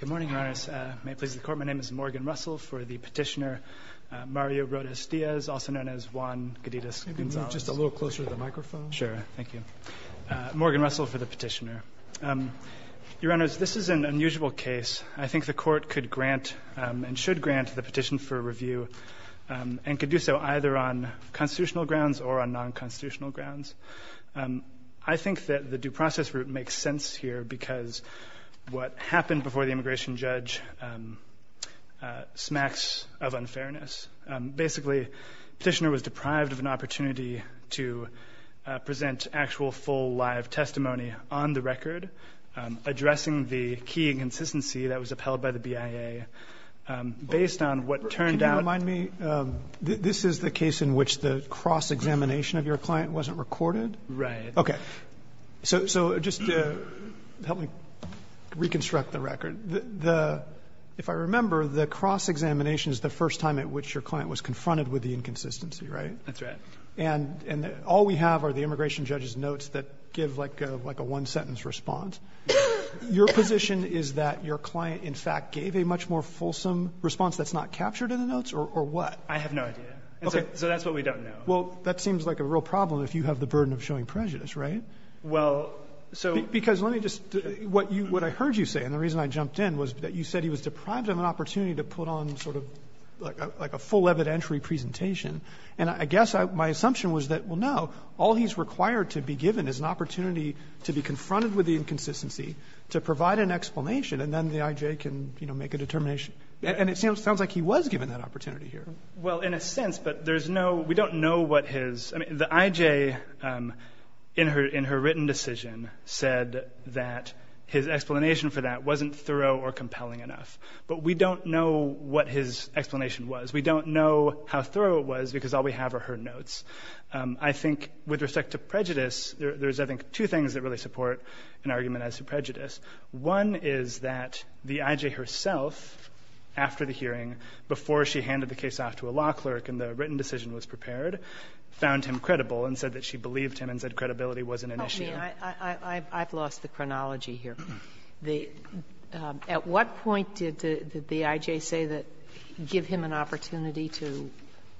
Good morning, Your Honors. May it please the Court, my name is Morgan Russell for the petitioner Mario Rodas-Diaz, also known as Juan Gadidas Gonzalez. Can you move just a little closer to the microphone? Sure, thank you. Morgan Russell for the petitioner. Your Honors, this is an unusual case. I think the Court could grant and should grant the petition for review and could do so either on constitutional grounds or on non-constitutional grounds. I think that the due process route makes sense here because what happened before the immigration judge smacks of unfairness. Basically, the petitioner was deprived of an opportunity to present actual, full, live testimony on the record, addressing the key inconsistency that was upheld by the BIA based on what turned out. If you don't mind me, this is the case in which the cross-examination of your client wasn't recorded? Right. Okay. So just help me reconstruct the record. If I remember, the cross-examination is the first time at which your client was confronted with the inconsistency, right? That's right. And all we have are the immigration judge's notes that give like a one-sentence response. Your position is that your client, in fact, gave a much more fulsome response that's not captured in the notes, or what? I have no idea. Okay. So that's what we don't know. Well, that seems like a real problem if you have the burden of showing prejudice, right? Well, so let me just do what you what I heard you say. And the reason I jumped in was that you said he was deprived of an opportunity to put on sort of like a full evidentiary presentation. And I guess my assumption was that, well, no. All he's required to be given is an opportunity to be confronted with the inconsistency, to provide an explanation, and then the I.J. can, you know, make a determination. And it sounds like he was given that opportunity here. Well, in a sense, but there's no we don't know what his I mean, the I.J., in her written decision, said that his explanation for that wasn't thorough or compelling enough. But we don't know what his explanation was. We don't know how thorough it was because all we have are her notes. I think with respect to prejudice, there's, I think, two things that really support an argument as to prejudice. One is that the I.J. herself, after the hearing, before she handed the case off to a law clerk and the written decision was prepared, found him credible and said that she believed him and said credibility wasn't an issue. Sotomayor, I've lost the chronology here. At what point did the I.J. say that give him an opportunity to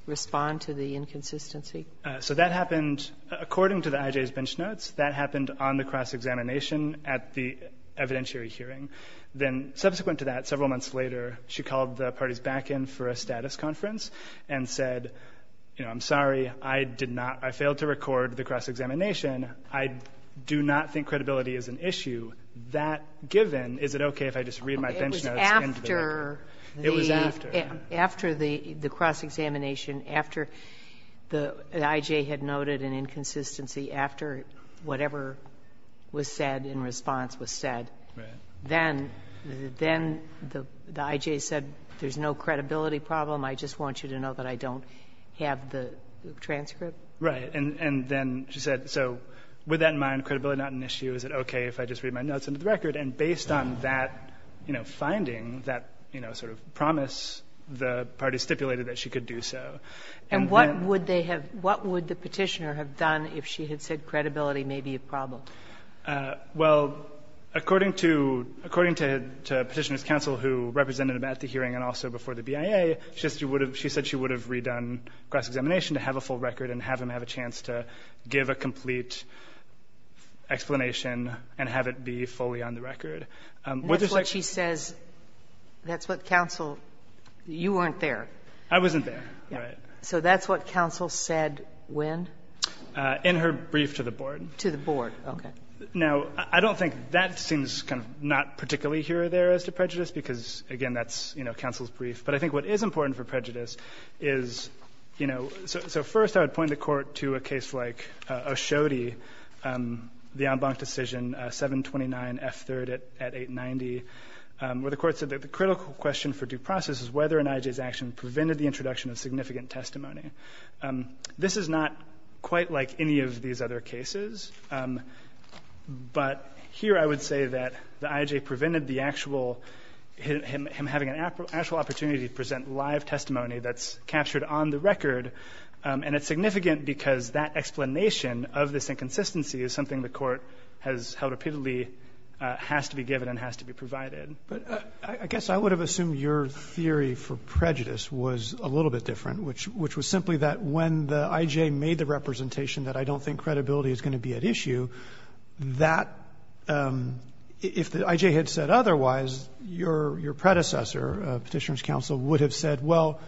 respond to the inconsistency So that happened according to the I.J.'s bench notes. That happened on the cross-examination at the evidentiary hearing. Then subsequent to that, several months later, she called the party's back end for a status conference and said, you know, I'm sorry, I did not, I failed to record the cross-examination. I do not think credibility is an issue. That given, is it okay if I just read my bench notes into the record? It was after the It was after. After the cross-examination, after the I.J. had noted an inconsistency, after whatever was said in response was said, then the I.J. said, there's no credibility problem, I just want you to know that I don't have the transcript. Right. And then she said, so with that in mind, credibility not an issue, is it okay if I just read my notes into the record? And based on that, you know, finding, that, you know, sort of promise, the party stipulated that she could do so. And then And what would they have, what would the Petitioner have done if she had said credibility may be a problem? Well, according to, according to Petitioner's counsel who represented him at the hearing and also before the BIA, she said she would have, she said she would have redone cross-examination to have a full record and have him have a chance to give a complete explanation and have it be fully on the record. What there's like And that's what she says, that's what counsel, you weren't there. I wasn't there, right. So that's what counsel said when? In her brief to the Board. To the Board. Okay. Now, I don't think that seems kind of not particularly here or there as to prejudice, because, again, that's, you know, counsel's brief. But I think what is important for prejudice is, you know, so first I would point the Court to a case like O'Shodey, the en banc decision, 729F3rd at 890, where the Court said that the critical question for due process is whether an I.J.'s action prevented the introduction of significant testimony. This is not quite like any of these other cases, but here I would say that the I.J. prevented the actual, him having an actual opportunity to present live testimony that's captured on the record, and it's significant because that explanation of this inconsistency is something the Court has held repeatedly, has to be given and has to be provided. But I guess I would have assumed your theory for prejudice was a little bit different, which was simply that when the I.J. made the representation that I don't think credibility is going to be at issue, that if the I.J. had said otherwise, your predecessor, Petitioner's counsel, would have said, well,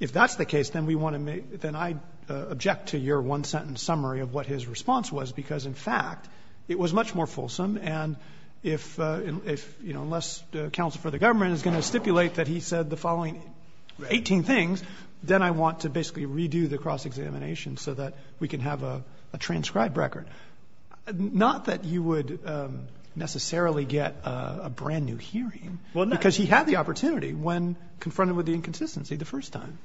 if that's the case, then we want to make the I object to your one-sentence summary of what his response was, because, in fact, it was much more fulsome, and if, you know, unless counsel for the government is going to stipulate that he said the following 18 things, then I want to basically redo the cross-examination so that we can have a transcribed record. Not that you would necessarily get a brand-new hearing, because he had the opportunity when confronted with the inconsistency the first time.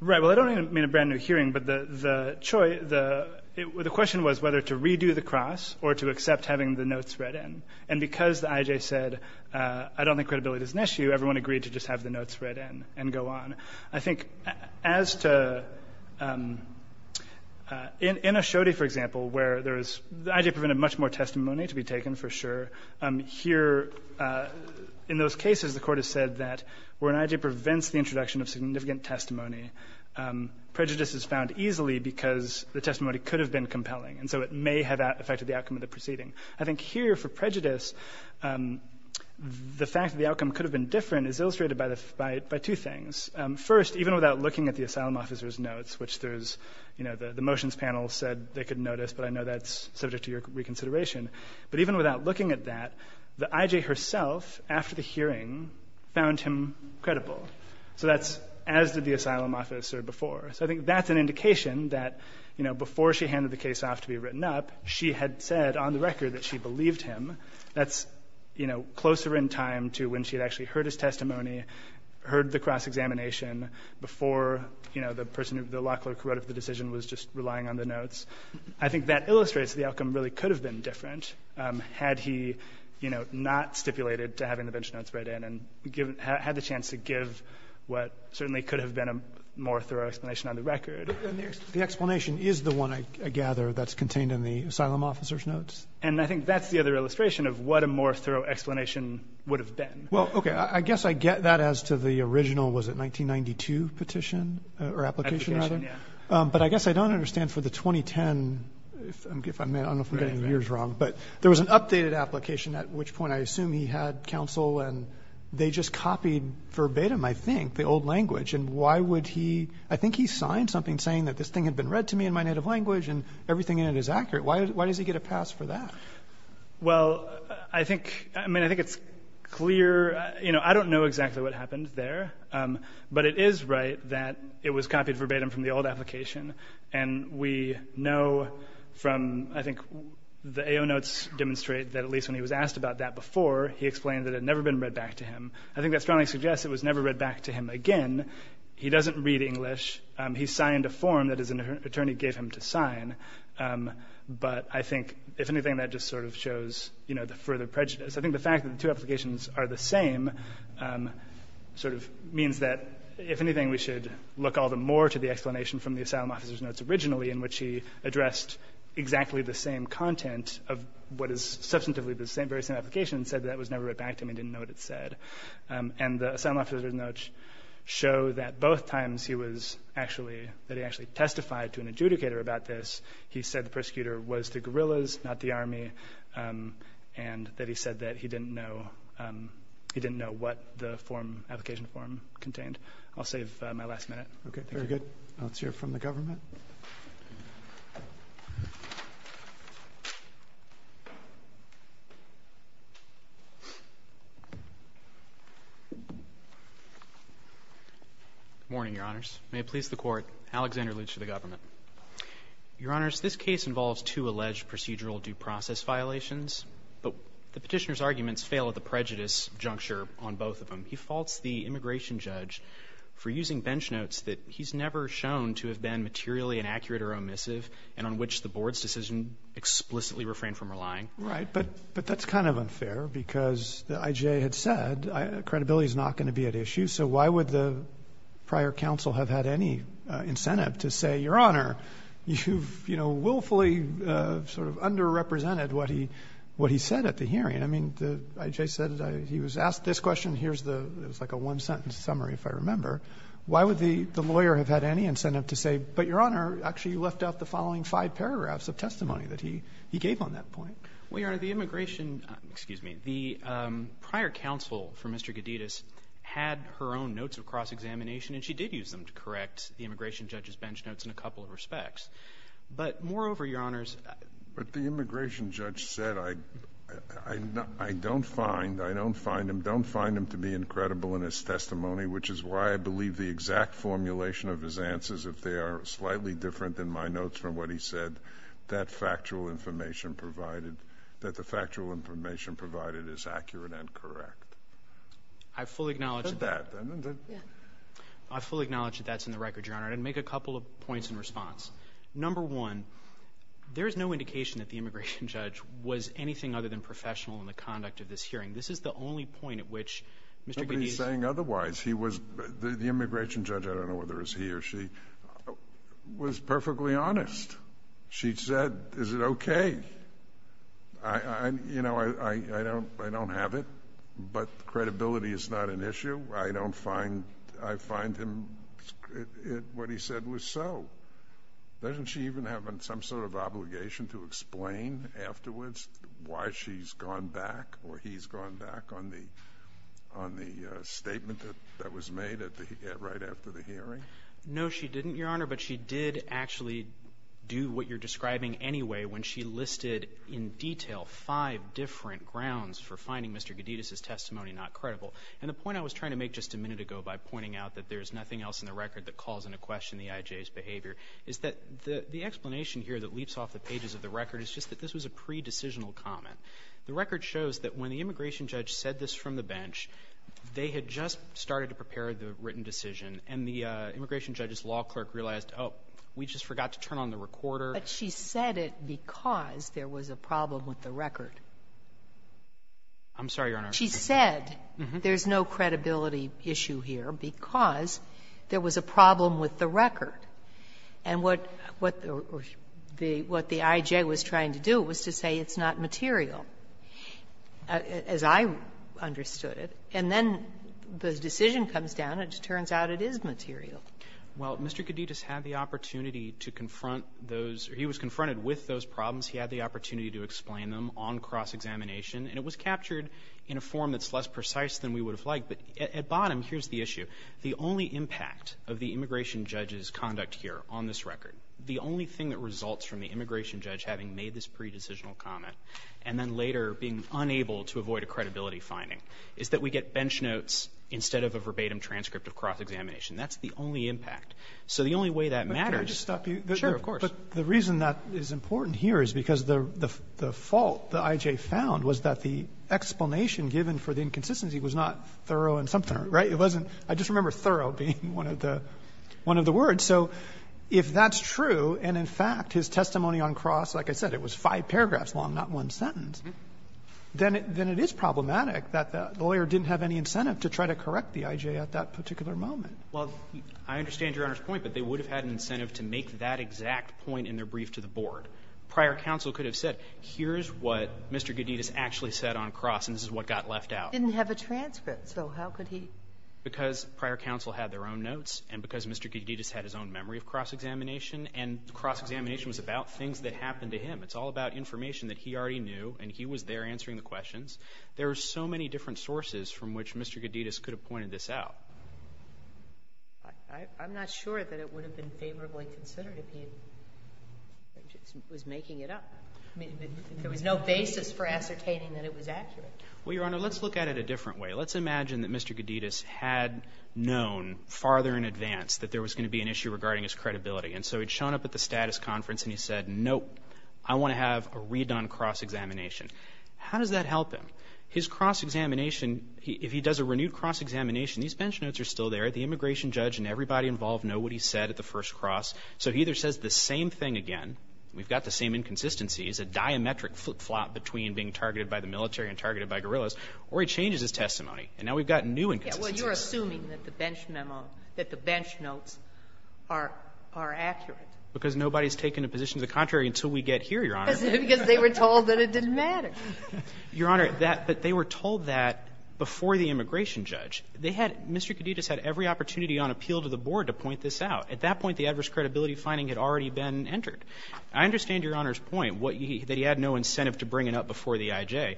Russell. Right. Well, I don't mean a brand-new hearing, but the choice, the question was whether to redo the cross or to accept having the notes read in. And because the I.J. said I don't think credibility is an issue, everyone agreed to just have the notes read in and go on. I think as to In Oshodi, for example, where there is the I.J. provided much more testimony to be taken, for sure, here, in those cases, the Court has said that where an I.J. prevents the introduction of significant testimony, prejudice is found easily because the testimony could have been compelling, and so it may have affected the outcome of the proceeding. I think here, for prejudice, the fact that the outcome could have been different is illustrated by two things. First, even without looking at the asylum officer's notes, which there's, you know, the motions panel said they couldn't notice, but I know that's subject to your reconsideration. But even without looking at that, the I.J. herself, after the hearing, found him credible. So that's as did the asylum officer before. So I think that's an indication that, you know, before she handed the case off to be written up, she had said on the record that she believed him. That's, you know, closer in time to when she had actually heard his testimony, heard the cross-examination before, you know, the person who the law clerk who wrote up the decision was just relying on the notes. I think that illustrates the outcome really could have been different had he, you know, not stipulated to having the bench notes read in and had the chance to give what certainly could have been a more thorough explanation on the record. The explanation is the one, I gather, that's contained in the asylum officer's notes? And I think that's the other illustration of what a more thorough explanation would have been. Well, okay. I guess I get that as to the original, was it 1992, petition or application, rather? Yeah. But I guess I don't understand for the 2010, if I may, I don't know if I'm getting the years wrong, but there was an updated application at which point I assume he had counsel and they just copied verbatim, I think, the old language. And why would he – I think he signed something saying that this thing had been read to me in my native language and everything in it is accurate. Why does he get a pass for that? Well, I think – I mean, I think it's clear – you know, I don't know exactly what happened there. But it is right that it was copied verbatim from the old application. And we know from, I think, the AO notes demonstrate that at least when he was asked about that before, he explained that it had never been read back to him. I think that strongly suggests it was never read back to him again. He doesn't read English. He signed a form that his attorney gave him to sign. But I think, if anything, that just sort of shows, you know, the further prejudice. I think the fact that the two applications are the same sort of means that, if anything, we should look all the more to the explanation from the asylum officer's notes originally, in which he addressed exactly the same content of what is substantively the very same application and said that it was never read back to him and didn't know what it said. And the asylum officer's notes show that both times he was actually – that he actually testified to an adjudicator about this. He said the persecutor was the guerrillas, not the Army, and that he said that he didn't know – he didn't know what the form – application form contained. I'll save my last minute. Thank you. Roberts. Very good. Let's hear from the government. Good morning, Your Honors. May it please the Court, Alexander Lutsch to the government. Your Honors, this case involves two alleged procedural due process violations, but the Petitioner's arguments fail at the prejudice juncture on both of them. He faults the immigration judge for using bench notes that he's never shown to have been materially inaccurate or omissive and on which the board's decision explicitly refrained from relying. Right. But that's kind of unfair because the IJA had said credibility is not going to be at the heart of the case, but, Your Honor, you've, you know, willfully sort of underrepresented what he said at the hearing. I mean, the IJA said he was asked this question, here's the – it was like a one-sentence summary, if I remember. Why would the lawyer have had any incentive to say, but, Your Honor, actually you left out the following five paragraphs of testimony that he gave on that point? Well, Your Honor, the immigration – excuse me. The prior counsel for Mr. Geddes had her own notes of cross-examination, and she did use them to correct the immigration judge's bench notes in a couple of respects. But moreover, Your Honors – But the immigration judge said, I don't find – I don't find him – don't find him to be incredible in his testimony, which is why I believe the exact formulation of his answers, if they are slightly different than my notes from what he said, that factual information provided – that the factual information provided is accurate and correct. I fully acknowledge – That's that, then, isn't it? I fully acknowledge that that's in the record, Your Honor. And I'd make a couple of points in response. Number one, there is no indication that the immigration judge was anything other than professional in the conduct of this hearing. This is the only point at which Mr. Geddes – Nobody's saying otherwise. He was – the immigration judge, I don't know whether it was he or she, was perfectly honest. She said, is it okay? I – you know, I don't have it, but credibility is not an issue. I don't find – I find him – what he said was so. Doesn't she even have some sort of obligation to explain afterwards why she's gone back or he's gone back on the – on the statement that was made at the – right after the hearing? No, she didn't, Your Honor, but she did actually do what you're describing anyway when she listed in detail five different grounds for finding Mr. Geddes' testimony not credible. And the point I was trying to make just a minute ago by pointing out that there's nothing else in the record that calls into question the IJA's behavior is that the explanation here that leaps off the pages of the record is just that this was a pre-decisional comment. The record shows that when the immigration judge said this from the bench, they had just started to prepare the written decision, and the immigration judge's law clerk realized, oh, we just forgot to turn on the recorder. But she said it because there was a problem with the record. I'm sorry, Your Honor. She said there's no credibility issue here because there was a problem with the record. And what the IJA was trying to do was to say it's not material, as I understood it. And then the decision comes down, and it turns out it is material. Well, Mr. Geddes had the opportunity to confront those – he was confronted with those problems. He had the opportunity to explain them on cross-examination. And it was captured in a form that's less precise than we would have liked. But at bottom, here's the issue. The only impact of the immigration judge's conduct here on this record, the only thing that results from the immigration judge having made this pre-decisional comment and then later being unable to avoid a credibility finding, is that we get bench notes instead of a verbatim transcript of cross-examination. That's the only impact. So the only way that matters – But can I just stop you? Sure, of course. But the reason that is important here is because the fault the IJA found was that the explanation given for the inconsistency was not thorough in some part, right? It wasn't – I just remember thorough being one of the words. So if that's true, and in fact his testimony on cross, like I said, it was five paragraphs long, not one sentence, then it is problematic that the lawyer didn't have any incentive to try to correct the IJA at that particular moment. Well, I understand Your Honor's point, but they would have had an incentive to make that exact point in their brief to the board. Prior counsel could have said, here's what Mr. Goddides actually said on cross, and this is what got left out. He didn't have a transcript, so how could he – Because prior counsel had their own notes, and because Mr. Goddides had his own memory of cross-examination, and cross-examination was about things that happened to him. It's all about information that he already knew, and he was there answering the questions. There are so many different sources from which Mr. Goddides could have pointed this out. I'm not sure that it would have been favorably considered if he was making it up. I mean, there was no basis for ascertaining that it was accurate. Well, Your Honor, let's look at it a different way. Let's imagine that Mr. Goddides had known farther in advance that there was going to be an issue regarding his credibility, and so he'd shown up at the status conference and he said, nope, I want to have a read-on cross-examination. How does that help him? His cross-examination, if he does a renewed cross-examination, these bench notes are still there. The immigration judge and everybody involved know what he said at the first cross. So he either says the same thing again, we've got the same inconsistencies, a diametric flip-flop between being targeted by the military and targeted by guerrillas, or he changes his testimony, and now we've got new inconsistencies. Well, you're assuming that the bench memo, that the bench notes are accurate. Because nobody's taken a position to the contrary until we get here, Your Honor. Because they were told that it didn't matter. Your Honor, that they were told that before the immigration judge. They had Mr. Goddides had every opportunity on appeal to the board to point this out. At that point, the adverse credibility finding had already been entered. I understand Your Honor's point, what he had no incentive to bring it up before the IJ.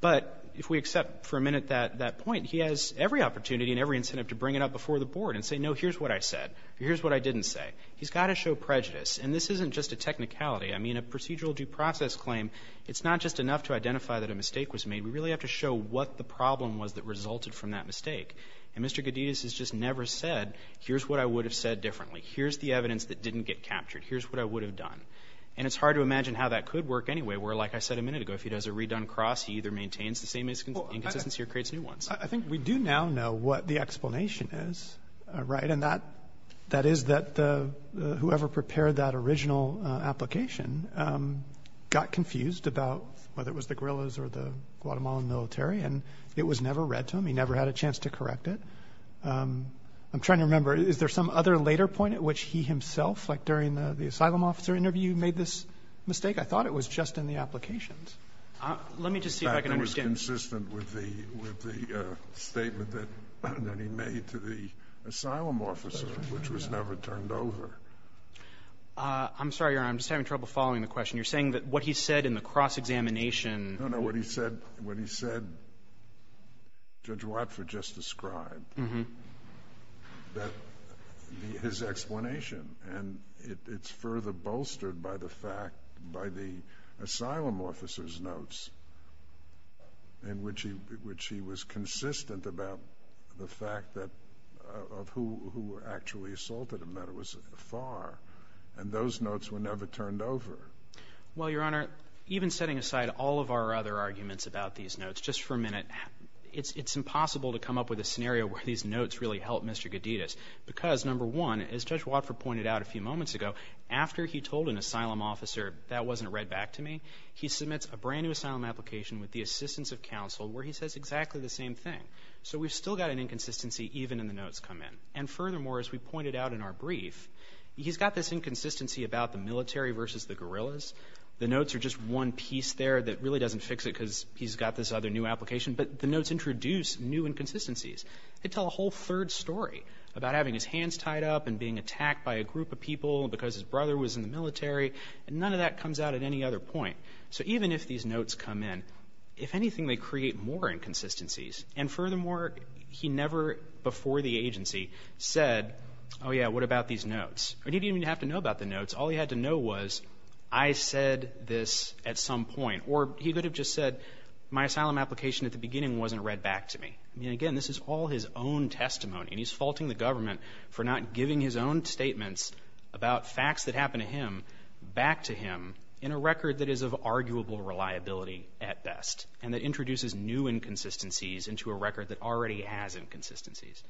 But if we accept for a minute that point, he has every opportunity and every incentive to bring it up before the board and say, no, here's what I said, or here's what I didn't say. He's got to show prejudice. And this isn't just a technicality. I mean, a procedural due process claim, it's not just enough to identify that a mistake was made. We really have to show what the problem was that resulted from that mistake. And Mr. Goddides has just never said, here's what I would have said differently. Here's the evidence that didn't get captured. Here's what I would have done. And it's hard to imagine how that could work anyway, where, like I said a minute ago, if he does a redone cross, he either maintains the same inconsistency or creates new ones. I think we do now know what the explanation is, right? And that is that whoever prepared that original application got confused about whether it was the guerrillas or the Guatemalan military. And it was never read to him. He never had a chance to correct it. I'm trying to remember, is there some other later point at which he himself, like during the asylum officer interview, made this mistake? I thought it was just in the applications. Let me just see if I can understand. It was consistent with the statement that he made to the asylum officer, which was never turned over. I'm sorry, Your Honor, I'm just having trouble following the question. You're saying that what he said in the cross-examination. No, no, what he said, what he said, Judge Watford just described, that the, his explanation, and it's further bolstered by the fact, by the asylum officer's in which he, which he was consistent about the fact that, of who, who were actually assaulted and that it was afar. And those notes were never turned over. Well, Your Honor, even setting aside all of our other arguments about these notes, just for a minute, it's, it's impossible to come up with a scenario where these notes really help Mr. Gedidas. Because number one, as Judge Watford pointed out a few moments ago, after he told an asylum officer, that wasn't read back to me, he submits a brand new asylum application with the assistance of counsel where he says exactly the same thing. So we've still got an inconsistency even in the notes come in. And furthermore, as we pointed out in our brief, he's got this inconsistency about the military versus the guerrillas. The notes are just one piece there that really doesn't fix it because he's got this other new application. But the notes introduce new inconsistencies. They tell a whole third story about having his hands tied up and being attacked by a group of people because his brother was in the military. And none of that comes out at any other point. So even if these notes come in, if anything, they create more inconsistencies. And furthermore, he never, before the agency, said, oh yeah, what about these notes? He didn't even have to know about the notes. All he had to know was, I said this at some point. Or he could have just said, my asylum application at the beginning wasn't read back to me. I mean, again, this is all his own testimony. And he's faulting the government for not giving his own statements about facts that have arguable reliability at best and that introduces new inconsistencies into a record that already has inconsistencies.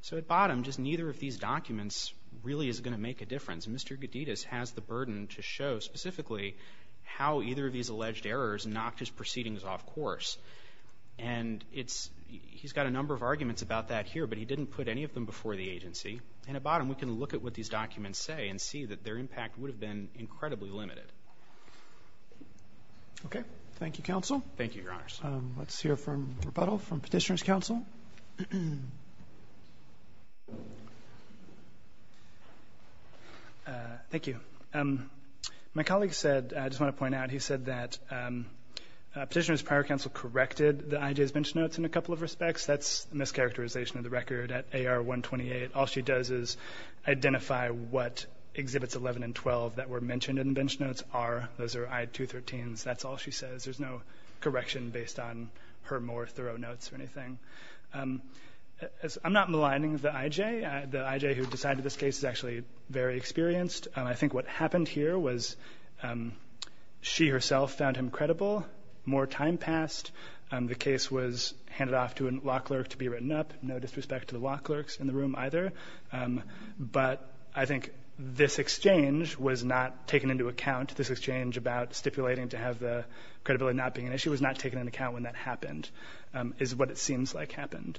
So at bottom, just neither of these documents really is going to make a difference. And Mr. Geddes has the burden to show specifically how either of these alleged errors knocked his proceedings off course. And he's got a number of arguments about that here, but he didn't put any of them before the agency. And at bottom, we can look at what these documents say and see that their impact would have been incredibly limited. Okay. Thank you, counsel. Thank you, Your Honors. Let's hear from rebuttal from Petitioner's counsel. Thank you. My colleague said, I just want to point out, he said that Petitioner's prior counsel corrected the IJ's bench notes in a couple of respects. That's a mischaracterization of the record at AR 128. All she does is identify what exhibits 11 and 12 that were mentioned in the bench notes are. Those are I213s. That's all she says. There's no correction based on her more thorough notes or anything. I'm not maligning the IJ. The IJ who decided this case is actually very experienced. I think what happened here was she herself found him credible. More time passed. The case was handed off to a lock clerk to be written up. No disrespect to the lock clerks in the room either. But I think this exchange was not taken into account. This exchange about stipulating to have the credibility not being an issue was not taken into account when that happened, is what it seems like happened.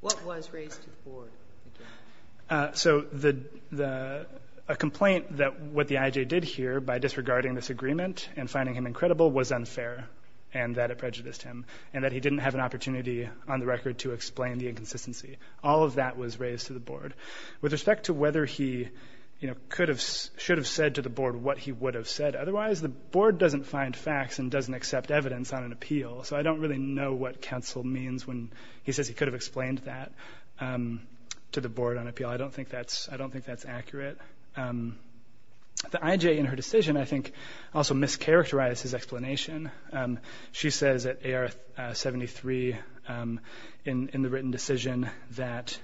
What was raised to the Board? So the — a complaint that what the IJ did here by disregarding this agreement and finding him incredible was unfair and that it prejudiced him, and that he didn't have an opportunity on the record to explain the inconsistency. All of that was raised to the Board. With respect to whether he, you know, could have — should have said to the Board what he would have said otherwise, the Board doesn't find facts and doesn't accept evidence on an appeal. So I don't really know what counsel means when he says he could have explained that to the Board on appeal. I don't think that's — I don't think that's accurate. The IJ in her decision, I think, also mischaracterized his explanation. She says at AR-73 in the written decision that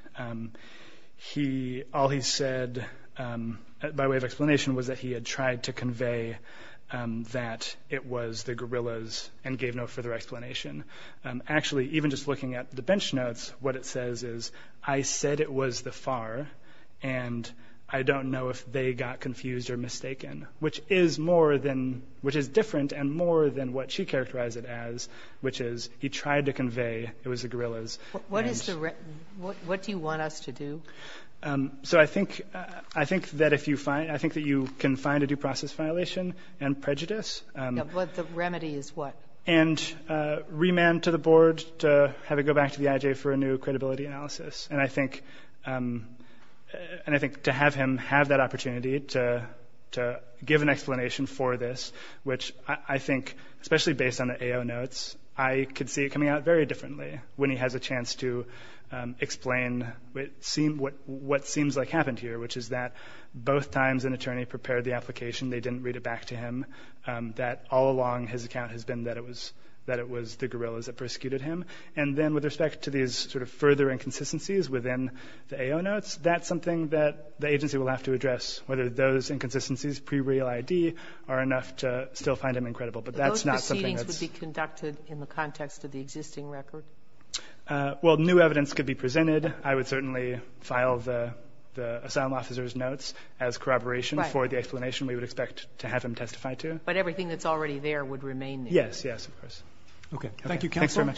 he — all he said by way of explanation was that he had tried to convey that it was the guerrillas and gave no further explanation. Actually, even just looking at the bench notes, what it says is, I said it was the FAR, and I don't know if they got confused or mistaken, which is more than — which is different and more than what she characterized it as, which is he tried to convey it was the guerrillas. And — What is the — what do you want us to do? So I think — I think that if you find — I think that you can find a due process violation and prejudice. Yeah, but the remedy is what? And remand to the Board to have it go back to the IJ for a new credibility analysis. And I think — and I think to have him have that opportunity to — to give an explanation for this, which I think, especially based on the AO notes, I could see it coming out very differently when he has a chance to explain what seems like happened here, which is that both times an attorney prepared the application, they didn't read it back to him, that all along his account has been that it was — that it was the guerrillas that persecuted him. And then with respect to these sort of further inconsistencies within the AO notes, that's something that the agency will have to address, whether those inconsistencies pre-real I.D. are enough to still find him incredible. But that's not something that's — But those proceedings would be conducted in the context of the existing record? Well, new evidence could be presented. I would certainly file the — the asylum officer's notes as corroboration for the explanation we would expect to have him testify to. But everything that's already there would remain there? Yes. Yes, of course. Okay. Thank you, counsel.